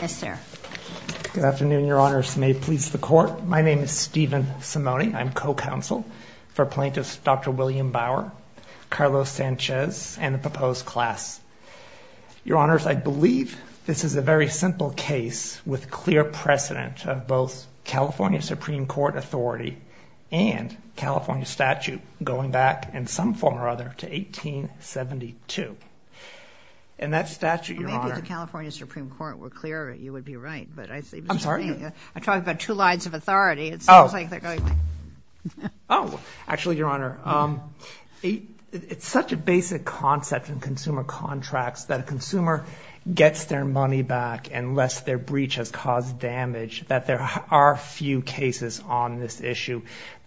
Yes, sir. Good afternoon, Your Honors. May it please the Court. My name is Stephen Simone. I'm co-counsel for plaintiffs Dr. William Bauer, Carlos Sanchez, and the proposed class. Your Honors, I believe this is a very simple case with clear precedent of both California Supreme Court authority and California statute going back in some form or other to 1872. And that statute, Your Honor— Maybe if the California Supreme Court were clearer, you would be right. I'm sorry? I'm talking about two lines of authority. Oh, actually, Your Honor, it's such a basic concept in consumer contracts that a consumer gets their money back unless their breach has caused damage, that there are few cases on this issue.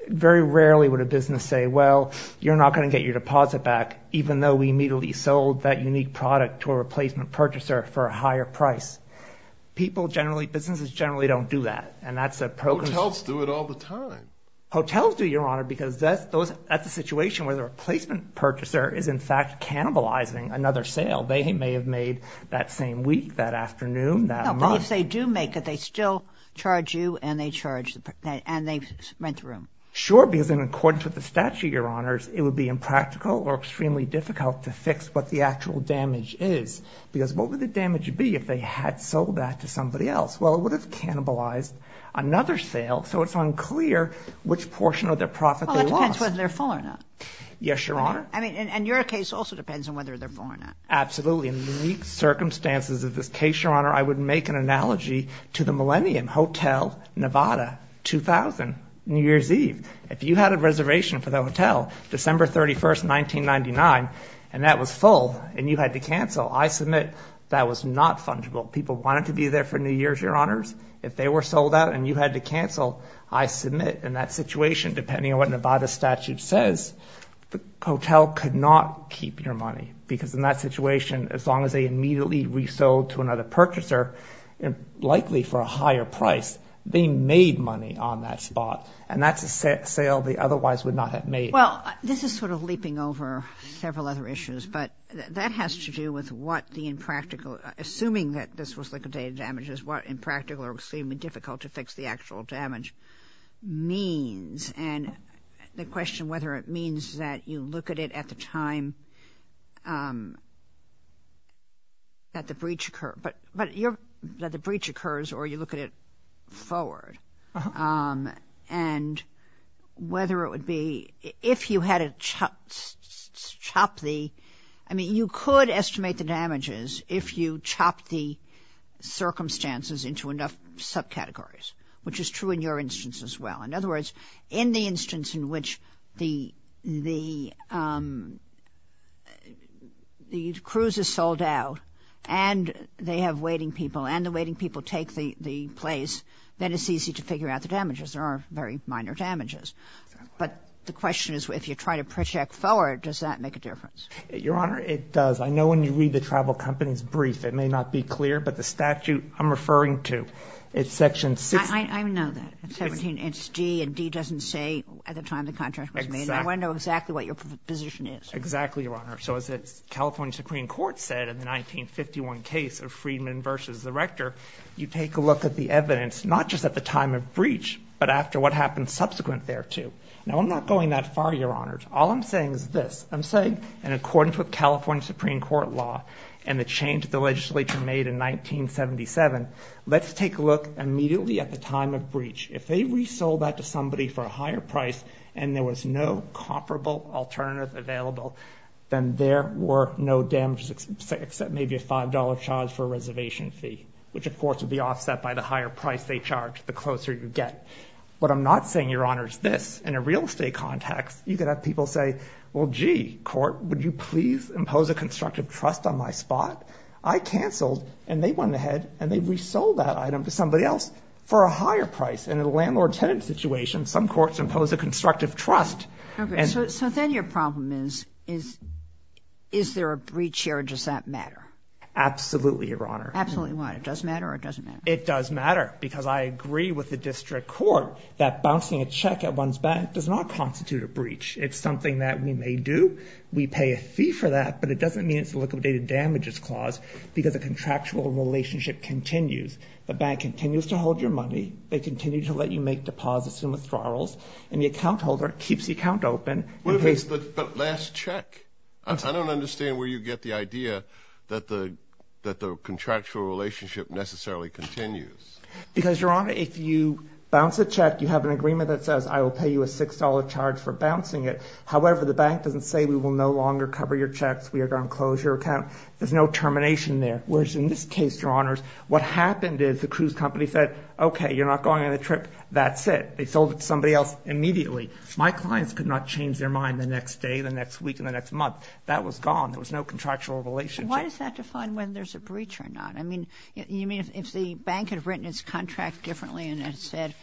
Very rarely would a business say, well, you're not going to get your deposit back even though we immediately sold that unique product to a replacement purchaser for a higher price. Businesses generally don't do that. Hotels do it all the time. Hotels do, Your Honor, because that's a situation where the replacement purchaser is in fact cannibalizing another sale. They may have made that same week, that afternoon, that month. No, but if they do make it, they still charge you and they rent the room. Sure, because in accordance with the statute, Your Honors, it would be impractical or extremely difficult to fix what the actual damage is. Because what would the damage be if they had sold that to somebody else? Well, it would have cannibalized another sale, so it's unclear which portion of their profit they lost. Well, that depends whether they're full or not. Yes, Your Honor. I mean, and your case also depends on whether they're full or not. Absolutely. In the unique circumstances of this case, Your Honor, I would make an analogy to the Millennium Hotel, Nevada, 2000, New Year's Eve. If you had a reservation for the hotel, December 31, 1999, and that was full and you had to cancel, I submit that was not fungible. People wanted to be there for New Year's, Your Honors. If they were sold out and you had to cancel, I submit in that situation, depending on what Nevada's statute says, the hotel could not keep your money. Because in that situation, as long as they immediately resold to another purchaser, likely for a higher price, they made money on that spot. And that's a sale they otherwise would not have made. Well, this is sort of leaping over several other issues, but that has to do with what the impractical – assuming that this was liquidated damages, what impractical or extremely difficult to fix the actual damage means. And the question whether it means that you look at it at the time that the breach occurs or you look at it forward. And whether it would be – if you had to chop the – I mean, you could estimate the damages if you chopped the circumstances into enough subcategories, which is true in your instance as well. In other words, in the instance in which the – the cruise is sold out and they have waiting people and the waiting people take the place, then it's easy to figure out the damages. There are very minor damages. But the question is if you try to project forward, does that make a difference? Your Honor, it does. I know when you read the travel company's brief, it may not be clear, but the statute I'm referring to, it's Section 16. I know that. It's D and D doesn't say at the time the contract was made. Exactly. And I want to know exactly what your position is. Exactly, Your Honor. So as the California Supreme Court said in the 1951 case of Friedman v. Rector, you take a look at the evidence not just at the time of breach, but after what happened subsequent thereto. Now, I'm not going that far, Your Honor. All I'm saying is this. I'm saying in accordance with California Supreme Court law and the change the legislature made in 1977, let's take a look immediately at the time of breach. If they resold that to somebody for a higher price and there was no comparable alternative available, then there were no damages except maybe a $5 charge for a reservation fee, which, of course, would be offset by the higher price they charged the closer you get. What I'm not saying, Your Honor, is this. In a real estate context, you could have people say, well, gee, court, would you please impose a constructive trust on my spot? I canceled and they went ahead and they resold that item to somebody else for a higher price. In a landlord-tenant situation, some courts impose a constructive trust. Okay. So then your problem is is there a breach here or does that matter? Absolutely, Your Honor. Absolutely. Why? It does matter or it doesn't matter? It does matter because I agree with the district court that bouncing a check at one's bank does not constitute a breach. It's something that we may do. We pay a fee for that, but it doesn't mean it's a liquidated damages clause because the contractual relationship continues. The bank continues to hold your money. They continue to let you make deposits and withdrawals, and the account holder keeps the account open. But last check. I don't understand where you get the idea that the contractual relationship necessarily continues. Because, Your Honor, if you bounce a check, you have an agreement that says I will pay you a $6 charge for bouncing it. However, the bank doesn't say we will no longer cover your checks. We are going to close your account. There's no termination there. Whereas in this case, Your Honors, what happened is the cruise company said, okay, you're not going on the trip. That's it. They sold it to somebody else immediately. My clients could not change their mind the next day, the next week, and the next month. That was gone. There was no contractual relationship. Why does that define whether there's a breach or not? I mean, you mean if the bank had written its contract differently and had said,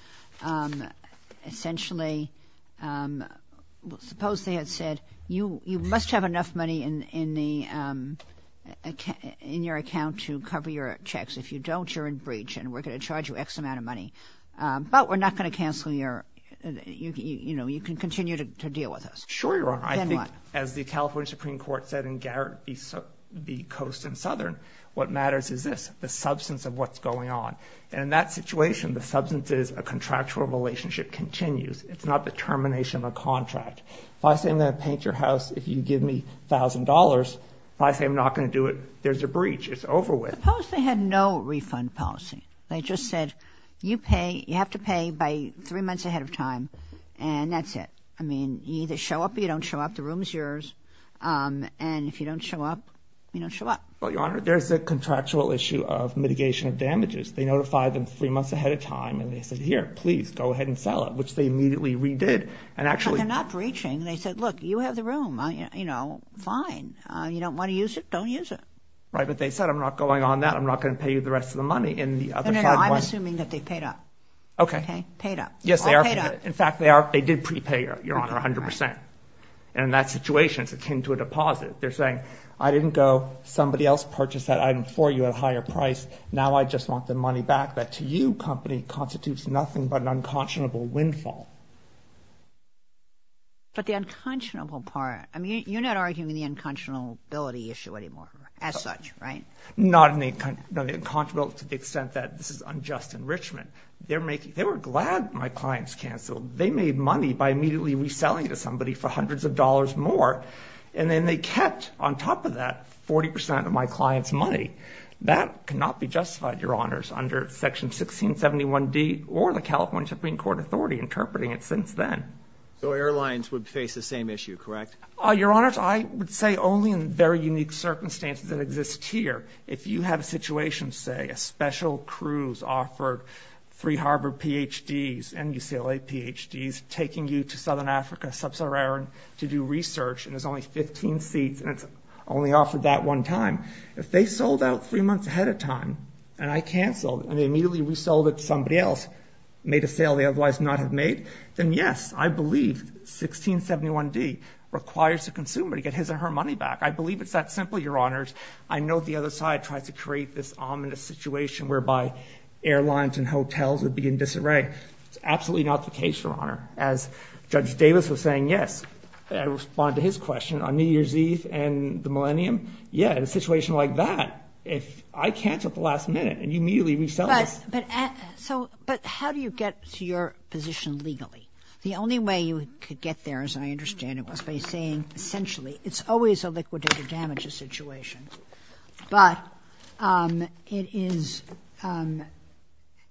essentially, suppose they had said you must have enough money in your account to cover your checks. If you don't, you're in breach, and we're going to charge you X amount of money. But we're not going to cancel your, you know, you can continue to deal with us. Sure, Your Honor. I think as the California Supreme Court said in Garrett v. Coast and Southern, what matters is this, the substance of what's going on. And in that situation, the substance is a contractual relationship continues. It's not the termination of a contract. If I say I'm going to paint your house if you give me $1,000, if I say I'm not going to do it, there's a breach. It's over with. Suppose they had no refund policy. They just said you pay, you have to pay by three months ahead of time, and that's it. I mean, you either show up or you don't show up. The room is yours. And if you don't show up, you don't show up. Well, Your Honor, there's a contractual issue of mitigation of damages. They notify them three months ahead of time, and they say, here, please, go ahead and sell it, which they immediately redid. But they're not breaching. They said, look, you have the room, you know, fine. You don't want to use it? Don't use it. Right, but they said I'm not going on that. I'm not going to pay you the rest of the money. No, no, no, I'm assuming that they paid up. Okay. Okay, paid up. Yes, they are. In fact, they did prepay, Your Honor, 100%. And in that situation, it's akin to a deposit. They're saying, I didn't go, somebody else purchased that item for you at a higher price. Now I just want the money back. That, to you, company, constitutes nothing but an unconscionable windfall. But the unconscionable part, I mean, you're not arguing the unconscionability issue anymore as such, right? Not in the, no, the unconscionability to the extent that this is unjust enrichment. They're making, they were glad my clients canceled. They made money by immediately reselling it to somebody for hundreds of dollars more. And then they kept, on top of that, 40% of my client's money. That cannot be justified, Your Honors, under Section 1671D or the California Supreme Court Authority interpreting it since then. So airlines would face the same issue, correct? Your Honors, I would say only in very unique circumstances that exist here. If you have a situation, say, a special cruise offered three Harvard PhDs and UCLA PhDs, taking you to Southern Africa, Sub-Saharan, to do research, and there's only 15 seats, and it's only offered that one time. If they sold out three months ahead of time, and I canceled, and they immediately resold it to somebody else, made a sale they otherwise would not have made, then yes, I believe 1671D requires the consumer to get his or her money back. I believe it's that simple, Your Honors. I know the other side tries to create this ominous situation whereby airlines and hotels would be in disarray. It's absolutely not the case, Your Honor. As Judge Davis was saying, yes, I respond to his question, on New Year's Eve and the Millennium, yeah, in a situation like that, if I cancel at the last minute, and you immediately resell this. But how do you get to your position legally? The only way you could get there, as I understand it, was by saying, essentially, it's always a liquidated damages situation. But it is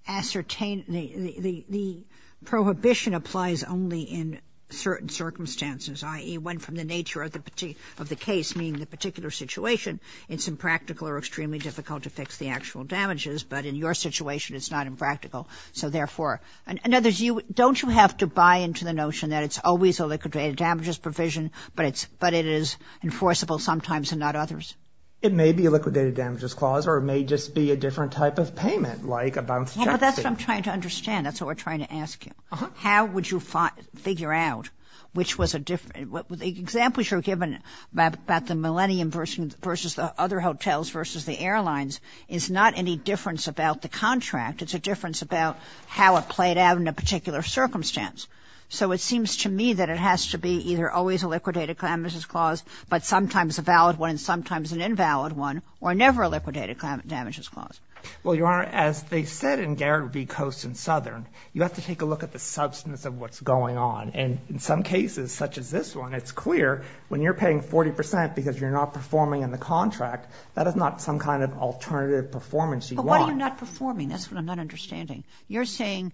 ascertained, the prohibition applies only in certain circumstances, i.e., when from the nature of the case, meaning the particular situation, it's impractical or extremely difficult to fix the actual damages, but in your situation, it's not impractical. So therefore, in other words, don't you have to buy into the notion that it's always a liquidated damages provision, but it is enforceable sometimes and not others? It may be a liquidated damages clause, or it may just be a different type of payment, like a bounced taxi. Yeah, but that's what I'm trying to understand. That's what we're trying to ask you. Uh-huh. How would you figure out which was a different – the examples you're giving about the Millennium versus the other hotels versus the airlines is not any difference about the contract. It's a difference about how it played out in a particular circumstance. So it seems to me that it has to be either always a liquidated damages clause, but sometimes a valid one and sometimes an invalid one, or never a liquidated damages clause. Well, Your Honor, as they said in Garrett v. Coast and Southern, you have to take a look at the substance of what's going on. And in some cases, such as this one, it's clear when you're paying 40 percent because you're not performing in the contract, that is not some kind of alternative performance you want. But why are you not performing? That's what I'm not understanding. You're saying,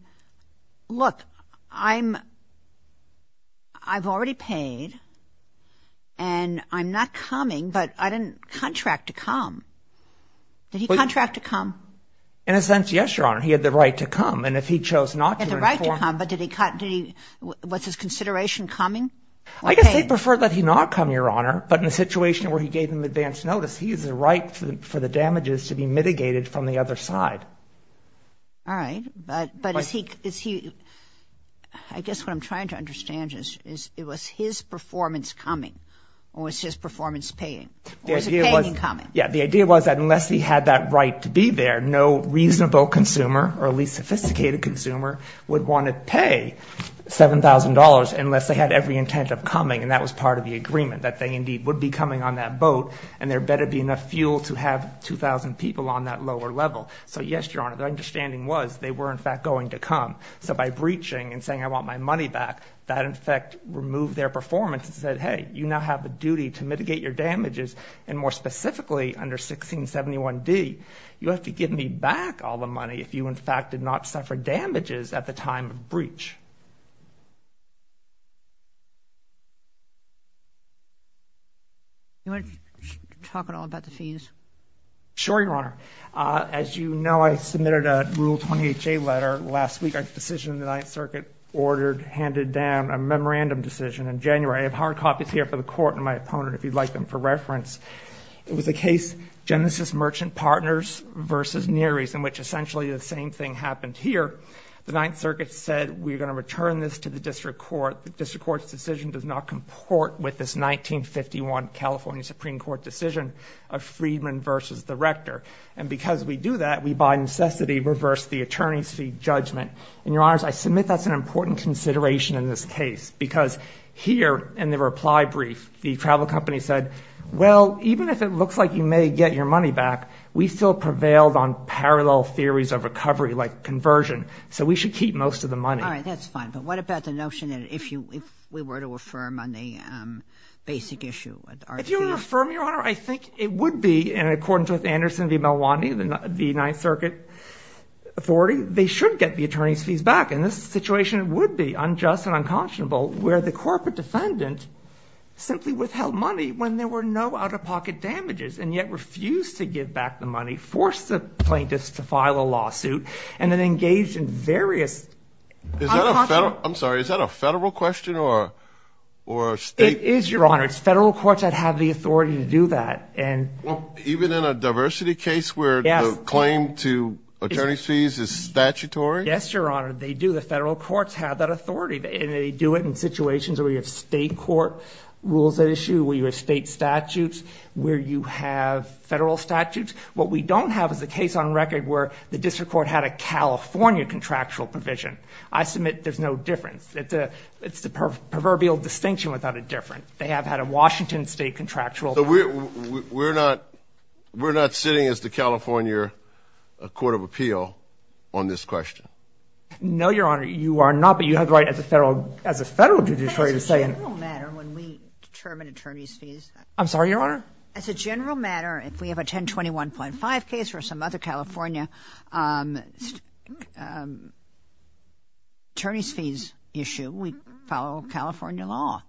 look, I'm – I've already paid and I'm not coming, but I didn't contract to come. Did he contract to come? In a sense, yes, Your Honor. He had the right to come. And if he chose not to – Had the right to come, but did he – was his consideration coming? I guess they preferred that he not come, Your Honor, but in the situation where he gave them advance notice, he has the right for the damages to be mitigated from the other side. All right. But is he – I guess what I'm trying to understand is it was his performance coming or was his performance paying? Or was it paying and coming? Yeah, the idea was that unless he had that right to be there, no reasonable consumer or at least sophisticated consumer would want to pay $7,000 unless they had every intent of coming, and that was part of the agreement, that they indeed would be coming on that boat and there better be enough fuel to have 2,000 people on that lower level. So, yes, Your Honor, the understanding was they were, in fact, going to come. So by breaching and saying, I want my money back, that, in fact, removed their performance and said, hey, you now have a duty to mitigate your damages, and more specifically under 1671D, you have to give me back all the money if you, in fact, did not suffer damages at the time of breach. Do you want to talk at all about the fees? Sure, Your Honor. As you know, I submitted a Rule 20HA letter last week, a decision the Ninth Circuit ordered, handed down, a memorandum decision in January. I have hard copies here for the Court and my opponent, if you'd like them for reference. It was a case, Genesis Merchant Partners v. Neary's, in which essentially the same thing happened here. The Ninth Circuit said, we're going to return this to the District Court. The District Court's decision does not comport with this 1951 California Supreme Court decision of Friedman v. The Rector. And because we do that, we by necessity reverse the attorney's fee judgment. And, Your Honors, I submit that's an important consideration in this case, because here in the reply brief, the travel company said, well, even if it looks like you may get your money back, we still prevailed on parallel theories of recovery, like conversion, so we should keep most of the money. All right, that's fine. But what about the notion that if we were to affirm on the basic issue? If you were to affirm, Your Honor, I think it would be, and according to Anderson v. Malwani, the Ninth Circuit authority, they should get the attorney's fees back. And this situation would be unjust and unconscionable, where the corporate defendant simply withheld money when there were no out-of-pocket damages and yet refused to give back the money, forced the plaintiffs to file a lawsuit, and then engaged in various – Is that a federal – I'm sorry. Is that a federal question or a state – It is, Your Honor. It's federal courts that have the authority to do that. Well, even in a diversity case where the claim to attorney's fees is statutory? Yes, Your Honor, they do. The federal courts have that authority, and they do it in situations where you have state court rules at issue, where you have state statutes, where you have federal statutes. What we don't have is a case on record where the district court had a California contractual provision. I submit there's no difference. It's the proverbial distinction without a difference. They have had a Washington state contractual. So we're not sitting as the California court of appeal on this question? No, Your Honor, you are not, but you have the right as a federal judiciary to say – As a general matter, when we determine attorney's fees – I'm sorry, Your Honor? As a general matter, if we have a 1021.5 case or some other California attorney's fees issue, we follow California law.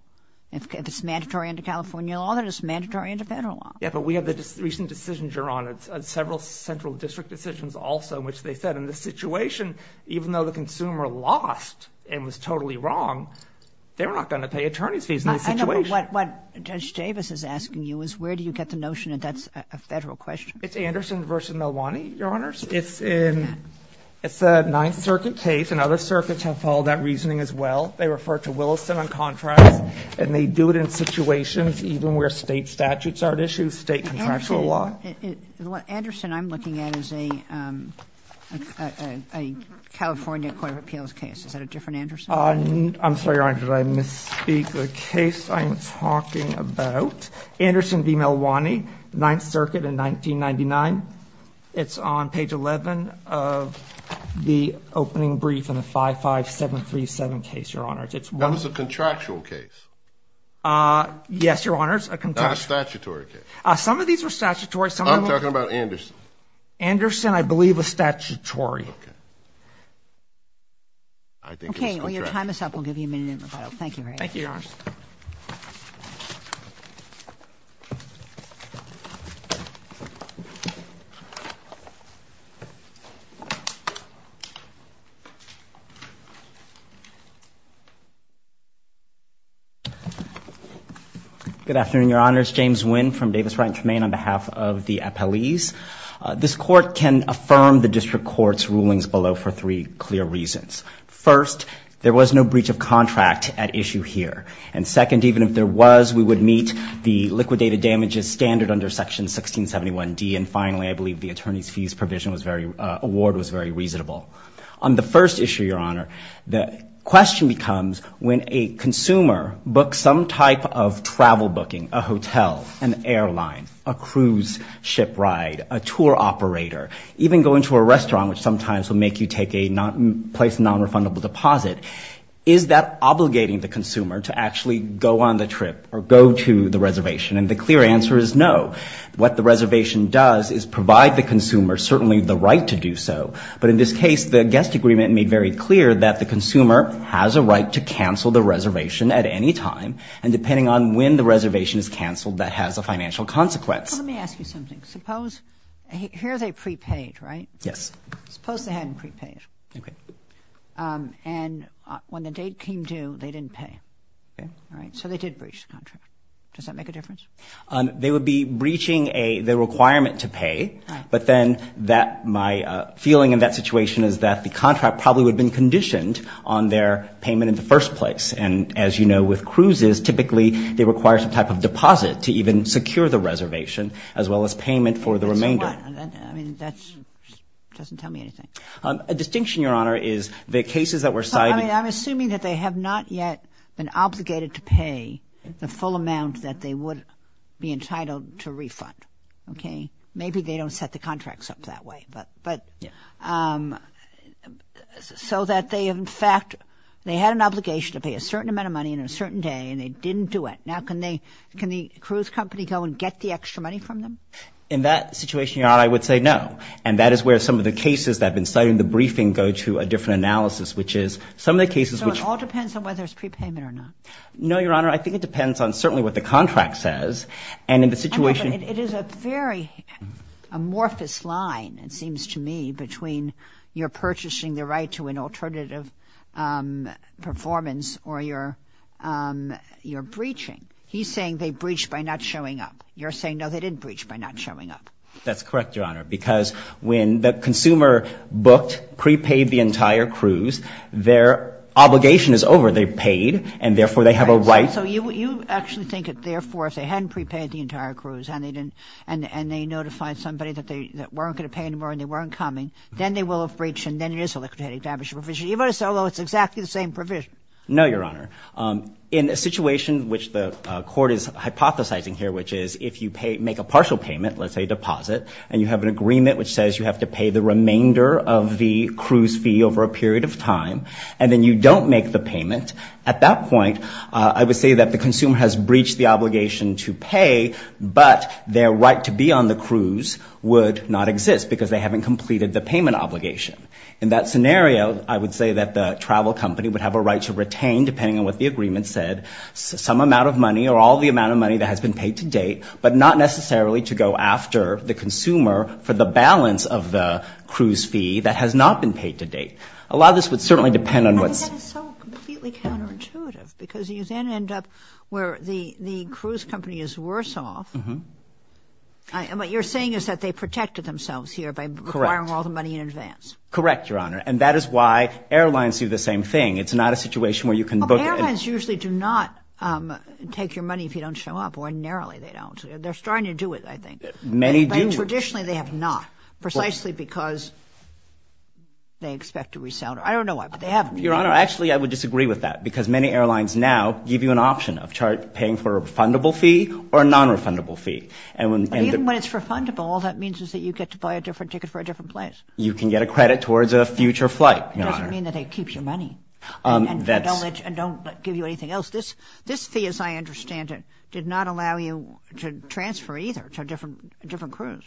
If it's mandatory under California law, then it's mandatory under federal law. Yes, but we have the recent decision, Your Honor, several central district decisions also in which they said in this situation, even though the consumer lost and was totally wrong, they're not going to pay attorney's fees in this situation. I know, but what Judge Davis is asking you is where do you get the notion that that's a federal question? It's Anderson v. Milwaukee, Your Honors. It's a Ninth Circuit case, and other circuits have followed that reasoning as well. They refer to Williston on contracts, and they do it in situations even where state statutes aren't issued, state contractual law. Anderson I'm looking at is a California court of appeals case. Is that a different Anderson? I'm sorry, Your Honor, did I misspeak? The case I'm talking about, Anderson v. Milwaukee, Ninth Circuit in 1999. It's on page 11 of the opening brief in the 55737 case, Your Honors. That was a contractual case? Yes, Your Honors, a contractual case. Not a statutory case? Some of these were statutory. I'm talking about Anderson. Anderson, I believe, was statutory. Okay. I think it was contractual. Okay, well, your time is up. We'll give you a minute in rebuttal. Thank you, Ray. Thank you, Your Honors. Good afternoon, Your Honors. James Nguyen from Davis Ranch, Maine, on behalf of the appellees. This court can affirm the district court's rulings below for three clear reasons. First, there was no breach of contract at issue here. And second, even if there was, we would meet the liquidated damages standard under Section 1671D. And finally, I believe the attorney's fees award was very reasonable. On the first issue, Your Honor, the question becomes when a consumer books some type of travel booking, a hotel, an airline, a cruise ship ride, a tour operator, even going to a restaurant, which sometimes will make you take a place of nonrefundable deposit, is that obligating the consumer to actually go on the trip or go to the reservation? And the clear answer is no. What the reservation does is provide the consumer certainly the right to do so. But in this case, the guest agreement made very clear that the consumer has a right to cancel the reservation at any time, and depending on when the reservation is canceled, that has a financial consequence. Well, let me ask you something. Suppose here they prepaid, right? Yes. Suppose they hadn't prepaid. Okay. And when the date came due, they didn't pay. Okay. All right? So they did breach the contract. Does that make a difference? They would be breaching the requirement to pay, but then my feeling in that situation is that the contract probably would have been conditioned on their payment in the first place. And as you know, with cruises, typically they require some type of deposit to even secure the reservation, as well as payment for the remainder. What? I mean, that doesn't tell me anything. A distinction, Your Honor, is the cases that were cited. I'm assuming that they have not yet been obligated to pay the full amount that they would be entitled to refund. Okay? Maybe they don't set the contracts up that way. But so that they, in fact, they had an obligation to pay a certain amount of money in a certain day, and they didn't do it. Now, can the cruise company go and get the extra money from them? In that situation, Your Honor, I would say no. And that is where some of the cases that have been cited in the briefing go to a different analysis, which is some of the cases which ---- So it all depends on whether it's prepayment or not? No, Your Honor. I think it depends on certainly what the contract says. And in the situation ---- It is a very amorphous line, it seems to me, between your purchasing the right to an alternative performance or your breaching. He's saying they breached by not showing up. You're saying, no, they didn't breach by not showing up. That's correct, Your Honor. Because when the consumer booked, prepaid the entire cruise, their obligation is over. They paid, and therefore they have a right ---- So you actually think that, therefore, if they hadn't prepaid the entire cruise and they notified somebody that they weren't going to pay anymore and they weren't coming, then they will have breached and then it is a liquidated damage provision, even though it's exactly the same provision? No, Your Honor. In a situation which the court is hypothesizing here, which is if you make a partial payment, let's say a deposit, and you have an agreement which says you have to pay the remainder of the cruise fee over a period of time, and then you don't make the payment, at that point I would say that the consumer has breached the obligation to pay, but their right to be on the cruise would not exist because they haven't completed the payment obligation. In that scenario, I would say that the travel company would have a right to retain, depending on what the agreement said, some amount of money or all the amount of money that has been paid to date, but not necessarily to go after the consumer for the balance of the cruise fee that has not been paid to date. A lot of this would certainly depend on what's ---- But that is so completely counterintuitive because you then end up where the cruise company is worse off. Uh-huh. And what you're saying is that they protected themselves here by requiring all the money in advance. Correct, Your Honor. And that is why airlines do the same thing. It's not a situation where you can book it. Well, airlines usually do not take your money if you don't show up. Ordinarily, they don't. They're starting to do it, I think. Many do. But traditionally, they have not, precisely because they expect to resell. I don't know why, but they haven't. Your Honor, actually, I would disagree with that because many airlines now give you an option of paying for a refundable fee or a nonrefundable fee. Even when it's refundable, all that means is that you get to buy a different ticket for a different place. You can get a credit towards a future flight, Your Honor. But that doesn't mean that they keep your money and don't give you anything else. This fee, as I understand it, did not allow you to transfer either to different crews.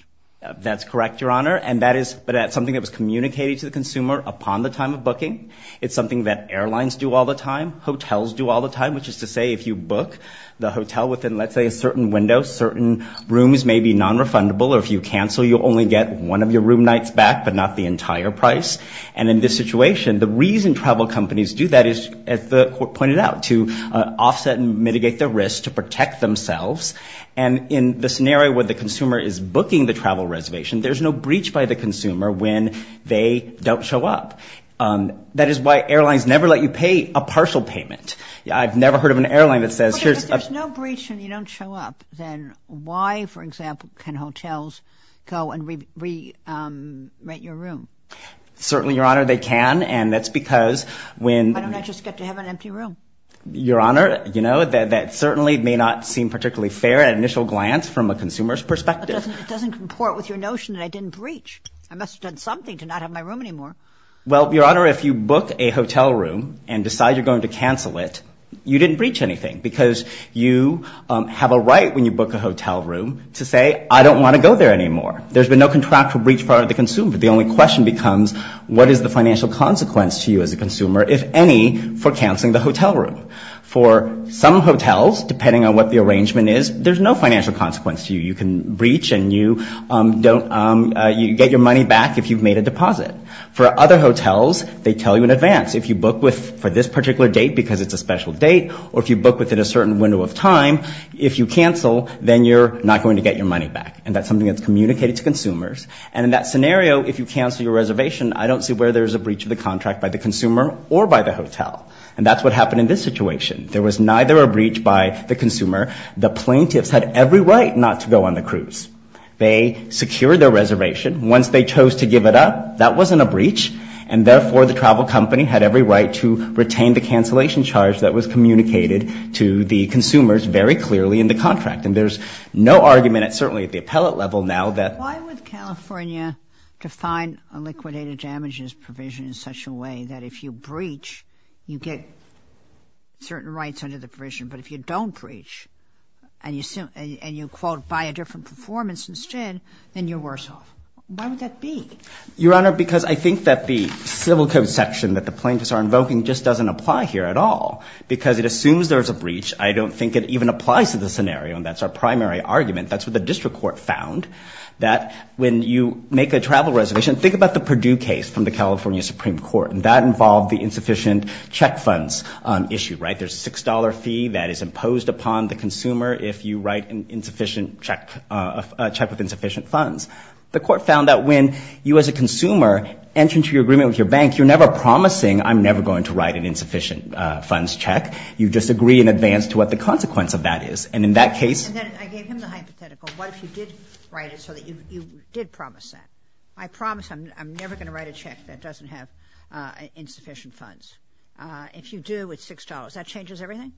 That's correct, Your Honor. But that's something that was communicated to the consumer upon the time of booking. It's something that airlines do all the time, hotels do all the time, which is to say if you book the hotel within, let's say, a certain window, certain rooms may be nonrefundable. Or if you cancel, you'll only get one of your room nights back, but not the entire price. And in this situation, the reason travel companies do that is, as the Court pointed out, to offset and mitigate the risk, to protect themselves. And in the scenario where the consumer is booking the travel reservation, there's no breach by the consumer when they don't show up. That is why airlines never let you pay a partial payment. I've never heard of an airline that says, Wait a minute, there's no breach and you don't show up. Then why, for example, can hotels go and re-rent your room? Certainly, Your Honor, they can. And that's because when- Why don't I just get to have an empty room? Your Honor, you know, that certainly may not seem particularly fair at initial glance from a consumer's perspective. It doesn't comport with your notion that I didn't breach. I must have done something to not have my room anymore. Well, Your Honor, if you book a hotel room and decide you're going to cancel it, you didn't breach anything because you have a right when you book a hotel room to say, I don't want to go there anymore. There's been no contractual breach prior to the consumer. The only question becomes, what is the financial consequence to you as a consumer, if any, for canceling the hotel room? For some hotels, depending on what the arrangement is, there's no financial consequence to you. You can breach and you get your money back if you've made a deposit. For other hotels, they tell you in advance. If you book for this particular date because it's a special date or if you book within a certain window of time, if you cancel, then you're not going to get your money back. And that's something that's communicated to consumers. And in that scenario, if you cancel your reservation, I don't see where there's a breach of the contract by the consumer or by the hotel. And that's what happened in this situation. There was neither a breach by the consumer. The plaintiffs had every right not to go on the cruise. They secured their reservation. Once they chose to give it up, that wasn't a breach, and therefore the travel company had every right to retain the cancellation charge that was communicated to the consumers very clearly in the contract. And there's no argument, certainly at the appellate level, now that— Why would California define a liquidated damages provision in such a way that if you breach, you get certain rights under the provision, but if you don't breach and you, quote, buy a different performance instead, then you're worse off? Why would that be? Your Honor, because I think that the civil code section that the plaintiffs are invoking just doesn't apply here at all because it assumes there's a breach. I don't think it even applies to the scenario, and that's our primary argument. That's what the district court found, that when you make a travel reservation— think about the Purdue case from the California Supreme Court, and that involved the insufficient check funds issue, right? There's a $6 fee that is imposed upon the consumer if you write a check with insufficient funds. The court found that when you as a consumer enter into your agreement with your bank, you're never promising, I'm never going to write an insufficient funds check. You just agree in advance to what the consequence of that is, and in that case— And then I gave him the hypothetical. What if you did write it so that you did promise that? I promise I'm never going to write a check that doesn't have insufficient funds. If you do, it's $6. That changes everything?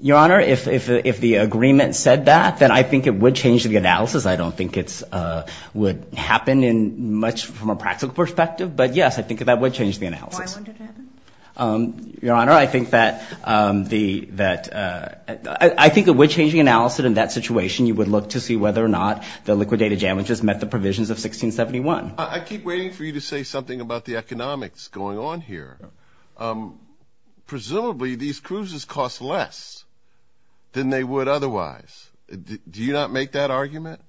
Your Honor, if the agreement said that, then I think it would change the analysis. I don't think it would happen much from a practical perspective, but yes, I think that would change the analysis. Why wouldn't it happen? Your Honor, I think that the—I think it would change the analysis in that situation. You would look to see whether or not the liquidated damages met the provisions of 1671. I keep waiting for you to say something about the economics going on here. Presumably, these cruises cost less than they would otherwise. Do you not make that argument?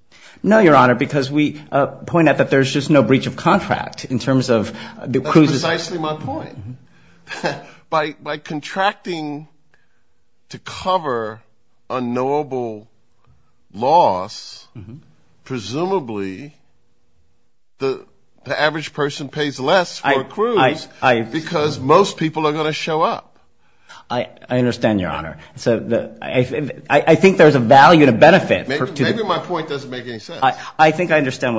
No, Your Honor, because we point out that there's just no breach of contract in terms of the cruises— by contracting to cover unknowable loss, presumably the average person pays less for a cruise because most people are going to show up. I understand, Your Honor. I think there's a value and a benefit. Maybe my point doesn't make any sense.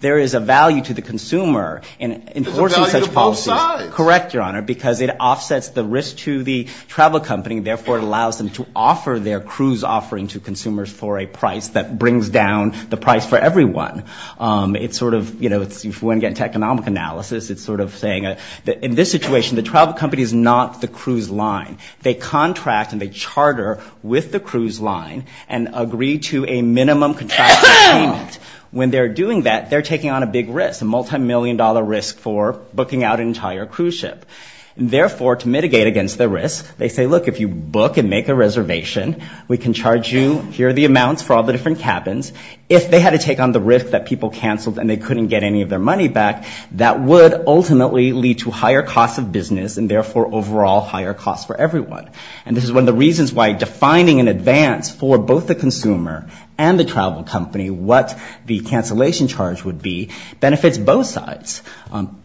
There is a value to the consumer in enforcing such policies. There's a value to both sides. Correct, Your Honor, because it offsets the risk to the travel company, therefore it allows them to offer their cruise offering to consumers for a price that brings down the price for everyone. It's sort of, you know, if you want to get into economic analysis, it's sort of saying that in this situation, the travel company is not the cruise line. They contract and they charter with the cruise line and agree to a minimum contractual payment. When they're doing that, they're taking on a big risk, a multimillion-dollar risk for booking out an entire cruise ship. Therefore, to mitigate against the risk, they say, look, if you book and make a reservation, we can charge you. Here are the amounts for all the different cabins. If they had to take on the risk that people canceled and they couldn't get any of their money back, that would ultimately lead to higher costs of business and therefore overall higher costs for everyone. And this is one of the reasons why defining in advance for both the consumer and the travel company what the cancellation charge would be benefits both sides.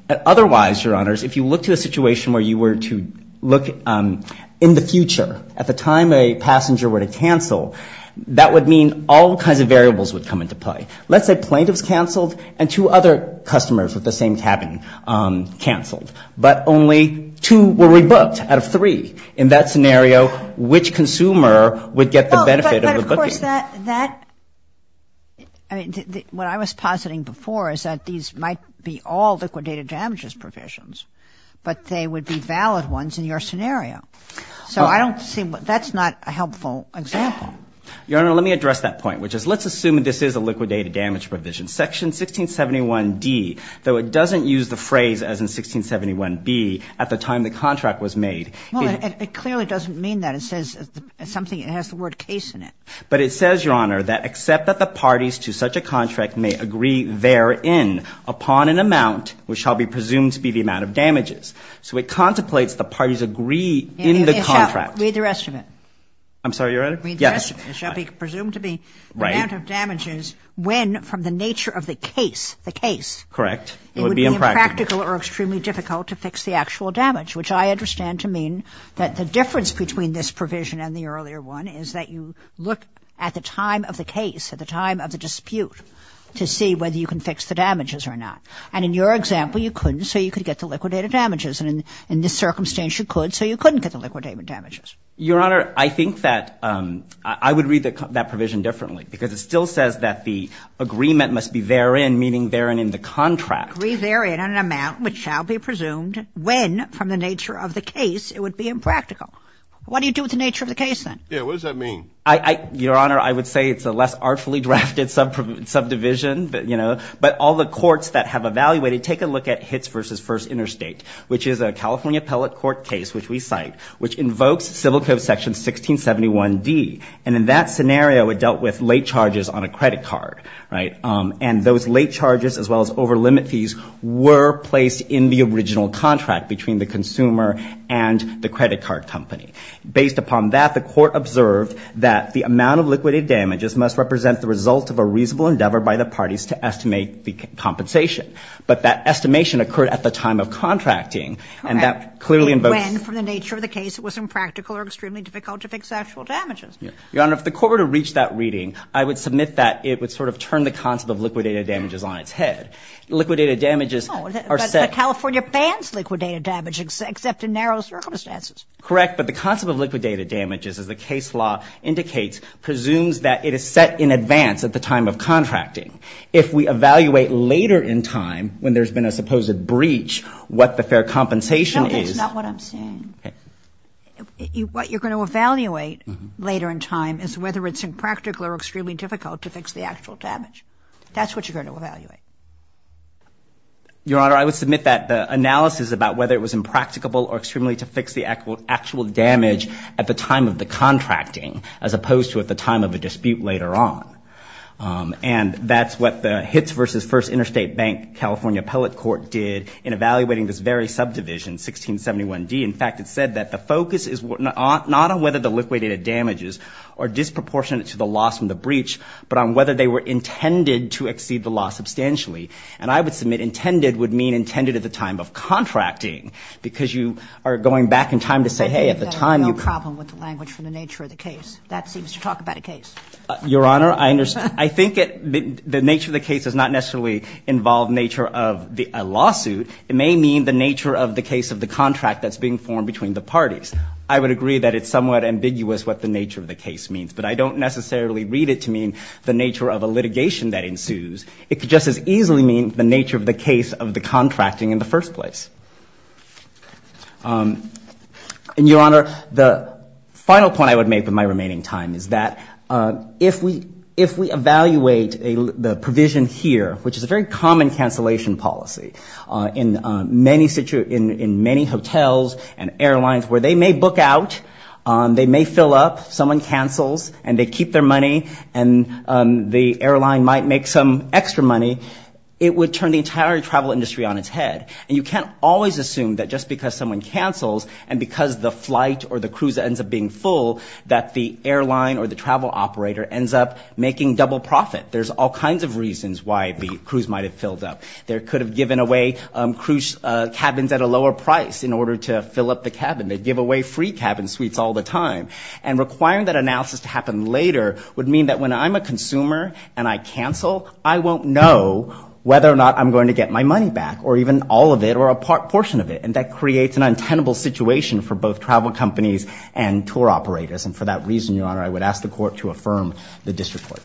Otherwise, Your Honors, if you look to a situation where you were to look in the future, at the time a passenger were to cancel, that would mean all kinds of variables would come into play. Let's say plaintiffs canceled and two other customers with the same cabin canceled, but only two were rebooked out of three. In that scenario, which consumer would get the benefit of the booking? But, of course, that, I mean, what I was positing before is that these might be all liquidated damages provisions, but they would be valid ones in your scenario. So I don't see, that's not a helpful example. Your Honor, let me address that point, which is let's assume this is a liquidated damage provision. Section 1671D, though it doesn't use the phrase, as in 1671B, at the time the contract was made. Well, it clearly doesn't mean that. It says something, it has the word case in it. But it says, Your Honor, that except that the parties to such a contract may agree therein upon an amount, which shall be presumed to be the amount of damages. So it contemplates the parties agree in the contract. Read the rest of it. I'm sorry, Your Honor? Read the rest of it. It shall be presumed to be the amount of damages when, from the nature of the case, the case. Correct. It would be impractical or extremely difficult to fix the actual damage, which I understand to mean that the difference between this provision and the earlier one is that you look at the time of the case, at the time of the dispute, to see whether you can fix the damages or not. And in your example, you couldn't, so you could get the liquidated damages. And in this circumstance, you could, so you couldn't get the liquidated damages. Your Honor, I think that I would read that provision differently, because it still says that the agreement must be therein, meaning therein in the contract. Agree therein on an amount which shall be presumed when, from the nature of the case, it would be impractical. What do you do with the nature of the case, then? Yeah, what does that mean? Your Honor, I would say it's a less artfully drafted subdivision, you know. But all the courts that have evaluated, take a look at Hitts v. First Interstate, which is a California appellate court case, which we cite, which invokes Civil Code Section 1671D. And in that scenario, it dealt with late charges on a credit card, right? And those late charges, as well as overlimit fees, were placed in the original contract between the consumer and the credit card company. Based upon that, the court observed that the amount of liquidated damages must represent the result of a reasonable endeavor by the parties to estimate the compensation. But that estimation occurred at the time of contracting, and that clearly invokes. When, from the nature of the case, it was impractical or extremely difficult to fix actual damages. Your Honor, if the court were to reach that reading, I would submit that it would sort of turn the concept of liquidated damages on its head. Liquidated damages are set. No, but California bans liquidated damage except in narrow circumstances. Correct. But the concept of liquidated damages, as the case law indicates, presumes that it is set in advance at the time of contracting. If we evaluate later in time, when there's been a supposed breach, what the fair compensation is. No, that's not what I'm saying. Okay. What you're going to evaluate later in time is whether it's impractical or extremely difficult to fix the actual damage. That's what you're going to evaluate. Your Honor, I would submit that the analysis about whether it was impracticable or extremely to fix the actual damage at the time of the contracting, as opposed to at the time of a dispute later on. And that's what the Hitts v. First Interstate Bank-California Appellate Court did in evaluating this very subdivision, 1671D. In fact, it said that the focus is not on whether the liquidated damages are disproportionate to the loss from the breach, but on whether they were intended to exceed the loss substantially. And I would submit intended would mean intended at the time of contracting because you are going back in time to say, hey, at the time you could. I think there's no problem with the language from the nature of the case. That seems to talk about a case. Your Honor, I think the nature of the case does not necessarily involve nature of a lawsuit. It may mean the nature of the case of the contract that's being formed between the parties. I would agree that it's somewhat ambiguous what the nature of the case means, but I don't necessarily read it to mean the nature of a litigation that ensues. It could just as easily mean the nature of the case of the contracting in the first place. And, Your Honor, the final point I would make in my remaining time is that if we evaluate the provision here, which is a very common cancellation policy in many hotels and airlines where they may book out, they may fill up, someone cancels, and they keep their money, and the airline might make some extra money, it would turn the entire travel industry on its head. And you can't always assume that just because someone cancels and because the flight or the cruise ends up being full, that the airline or the travel operator ends up making double profit. There's all kinds of reasons why the cruise might have filled up. They could have given away cruise cabins at a lower price in order to fill up the cabin. They give away free cabin suites all the time. And requiring that analysis to happen later would mean that when I'm a consumer and I cancel, I won't know whether or not I'm going to get my money back, or even all of it or a portion of it. And that creates an untenable situation for both travel companies and tour operators. And for that reason, Your Honor, I would ask the Court to affirm the district court.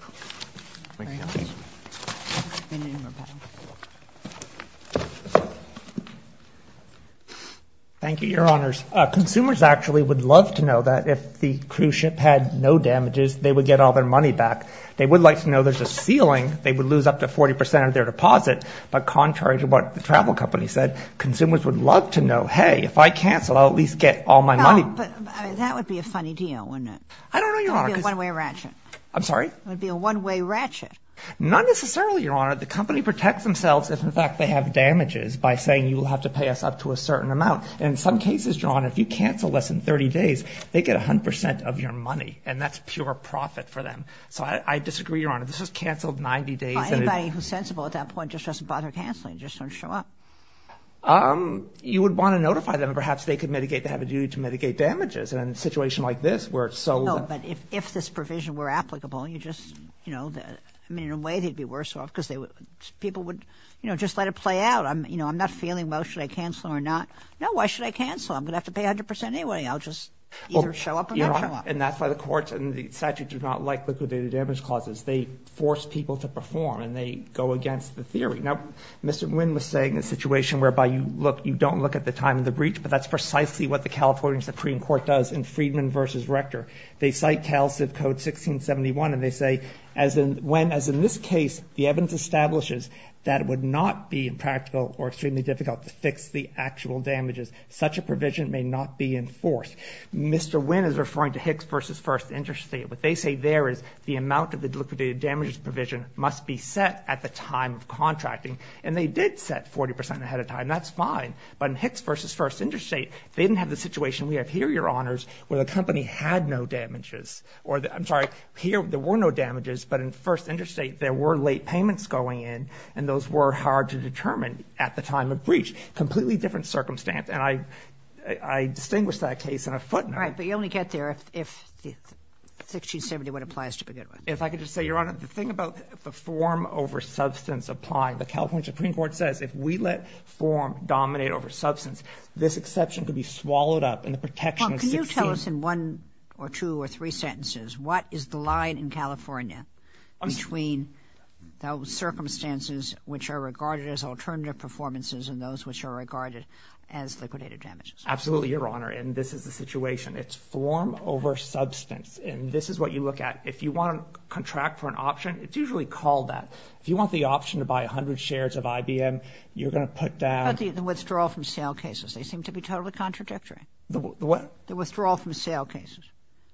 Thank you, Your Honors. Consumers actually would love to know that if the cruise ship had no damages, they would get all their money back. They would like to know there's a ceiling. They would lose up to 40 percent of their deposit. But contrary to what the travel company said, consumers would love to know, hey, if I cancel, I'll at least get all my money. But that would be a funny deal, wouldn't it? I don't know, Your Honor. It would be a one-way ratchet. I'm sorry? It would be a one-way ratchet. Not necessarily, Your Honor. The company protects themselves if, in fact, they have damages by saying you will have to pay us up to a certain amount. And in some cases, Your Honor, if you cancel less than 30 days, they get 100 percent of your money, and that's pure profit for them. So I disagree, Your Honor. This was canceled 90 days. Anybody who's sensible at that point just doesn't bother canceling, just doesn't show up. You would want to notify them. Perhaps they could mitigate, they have a duty to mitigate damages. And in a situation like this where it's so— No, but if this provision were applicable, you just— I mean, in a way, they'd be worse off because people would just let it play out. I'm not feeling, well, should I cancel or not? No, why should I cancel? I'm going to have to pay 100 percent anyway. I'll just either show up or not show up. And that's why the courts and the statute do not like liquidated damage clauses. They force people to perform, and they go against the theory. Now, Mr. Wynn was saying a situation whereby you don't look at the time of the breach, but that's precisely what the California Supreme Court does in Friedman v. Rector. They cite Cal Civ Code 1671, and they say, when, as in this case, the evidence establishes that it would not be impractical or extremely difficult to fix the actual damages, such a provision may not be enforced. Mr. Wynn is referring to Hicks v. First Interstate. What they say there is the amount of the liquidated damages provision must be set at the time of contracting. And they did set 40 percent ahead of time. That's fine. But in Hicks v. First Interstate, they didn't have the situation we have here, Your Honors, where the company had no damages. I'm sorry. Here, there were no damages, but in First Interstate, there were late payments going in, and those were hard to determine at the time of breach. Completely different circumstance. And I distinguish that case in a footnote. Right, but you only get there if 1671 applies to begin with. If I could just say, Your Honor, the thing about the form over substance applying, the California Supreme Court says, if we let form dominate over substance, this exception could be swallowed up in the protection of 16— Well, can you tell us in one or two or three sentences, what is the line in California between those circumstances which are regarded as alternative performances and those which are regarded as liquidated damages? Absolutely, Your Honor. And this is the situation. It's form over substance. And this is what you look at. If you want to contract for an option, it's usually called that. If you want the option to buy 100 shares of IBM, you're going to put down— But the withdrawal from sale cases, they seem to be totally contradictory. The what? The withdrawal from sale cases.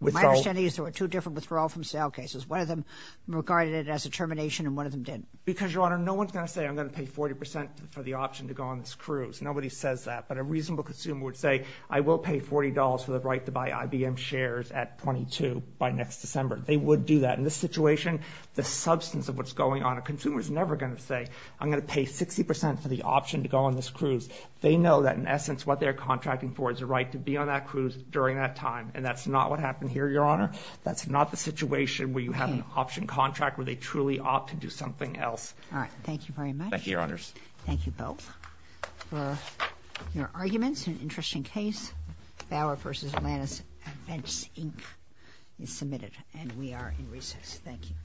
Withdrawal— My understanding is there were two different withdrawal from sale cases. One of them regarded it as a termination, and one of them didn't. Because, Your Honor, no one's going to say, I'm going to pay 40% for the option to go on this cruise. Nobody says that. But a reasonable consumer would say, I will pay $40 for the right to buy IBM shares at 22 by next December. They would do that. In this situation, the substance of what's going on, a consumer's never going to say, I'm going to pay 60% for the option to go on this cruise. They know that, in essence, what they're contracting for is the right to be on that cruise during that time. And that's not what happened here, Your Honor. That's not the situation where you have an option contract where they truly opt to do something else. All right. Thank you very much. Thank you, Your Honors. Thank you both for your arguments. An interesting case. Bauer v. Atlantis Advents, Inc. is submitted. And we are in recess. Thank you.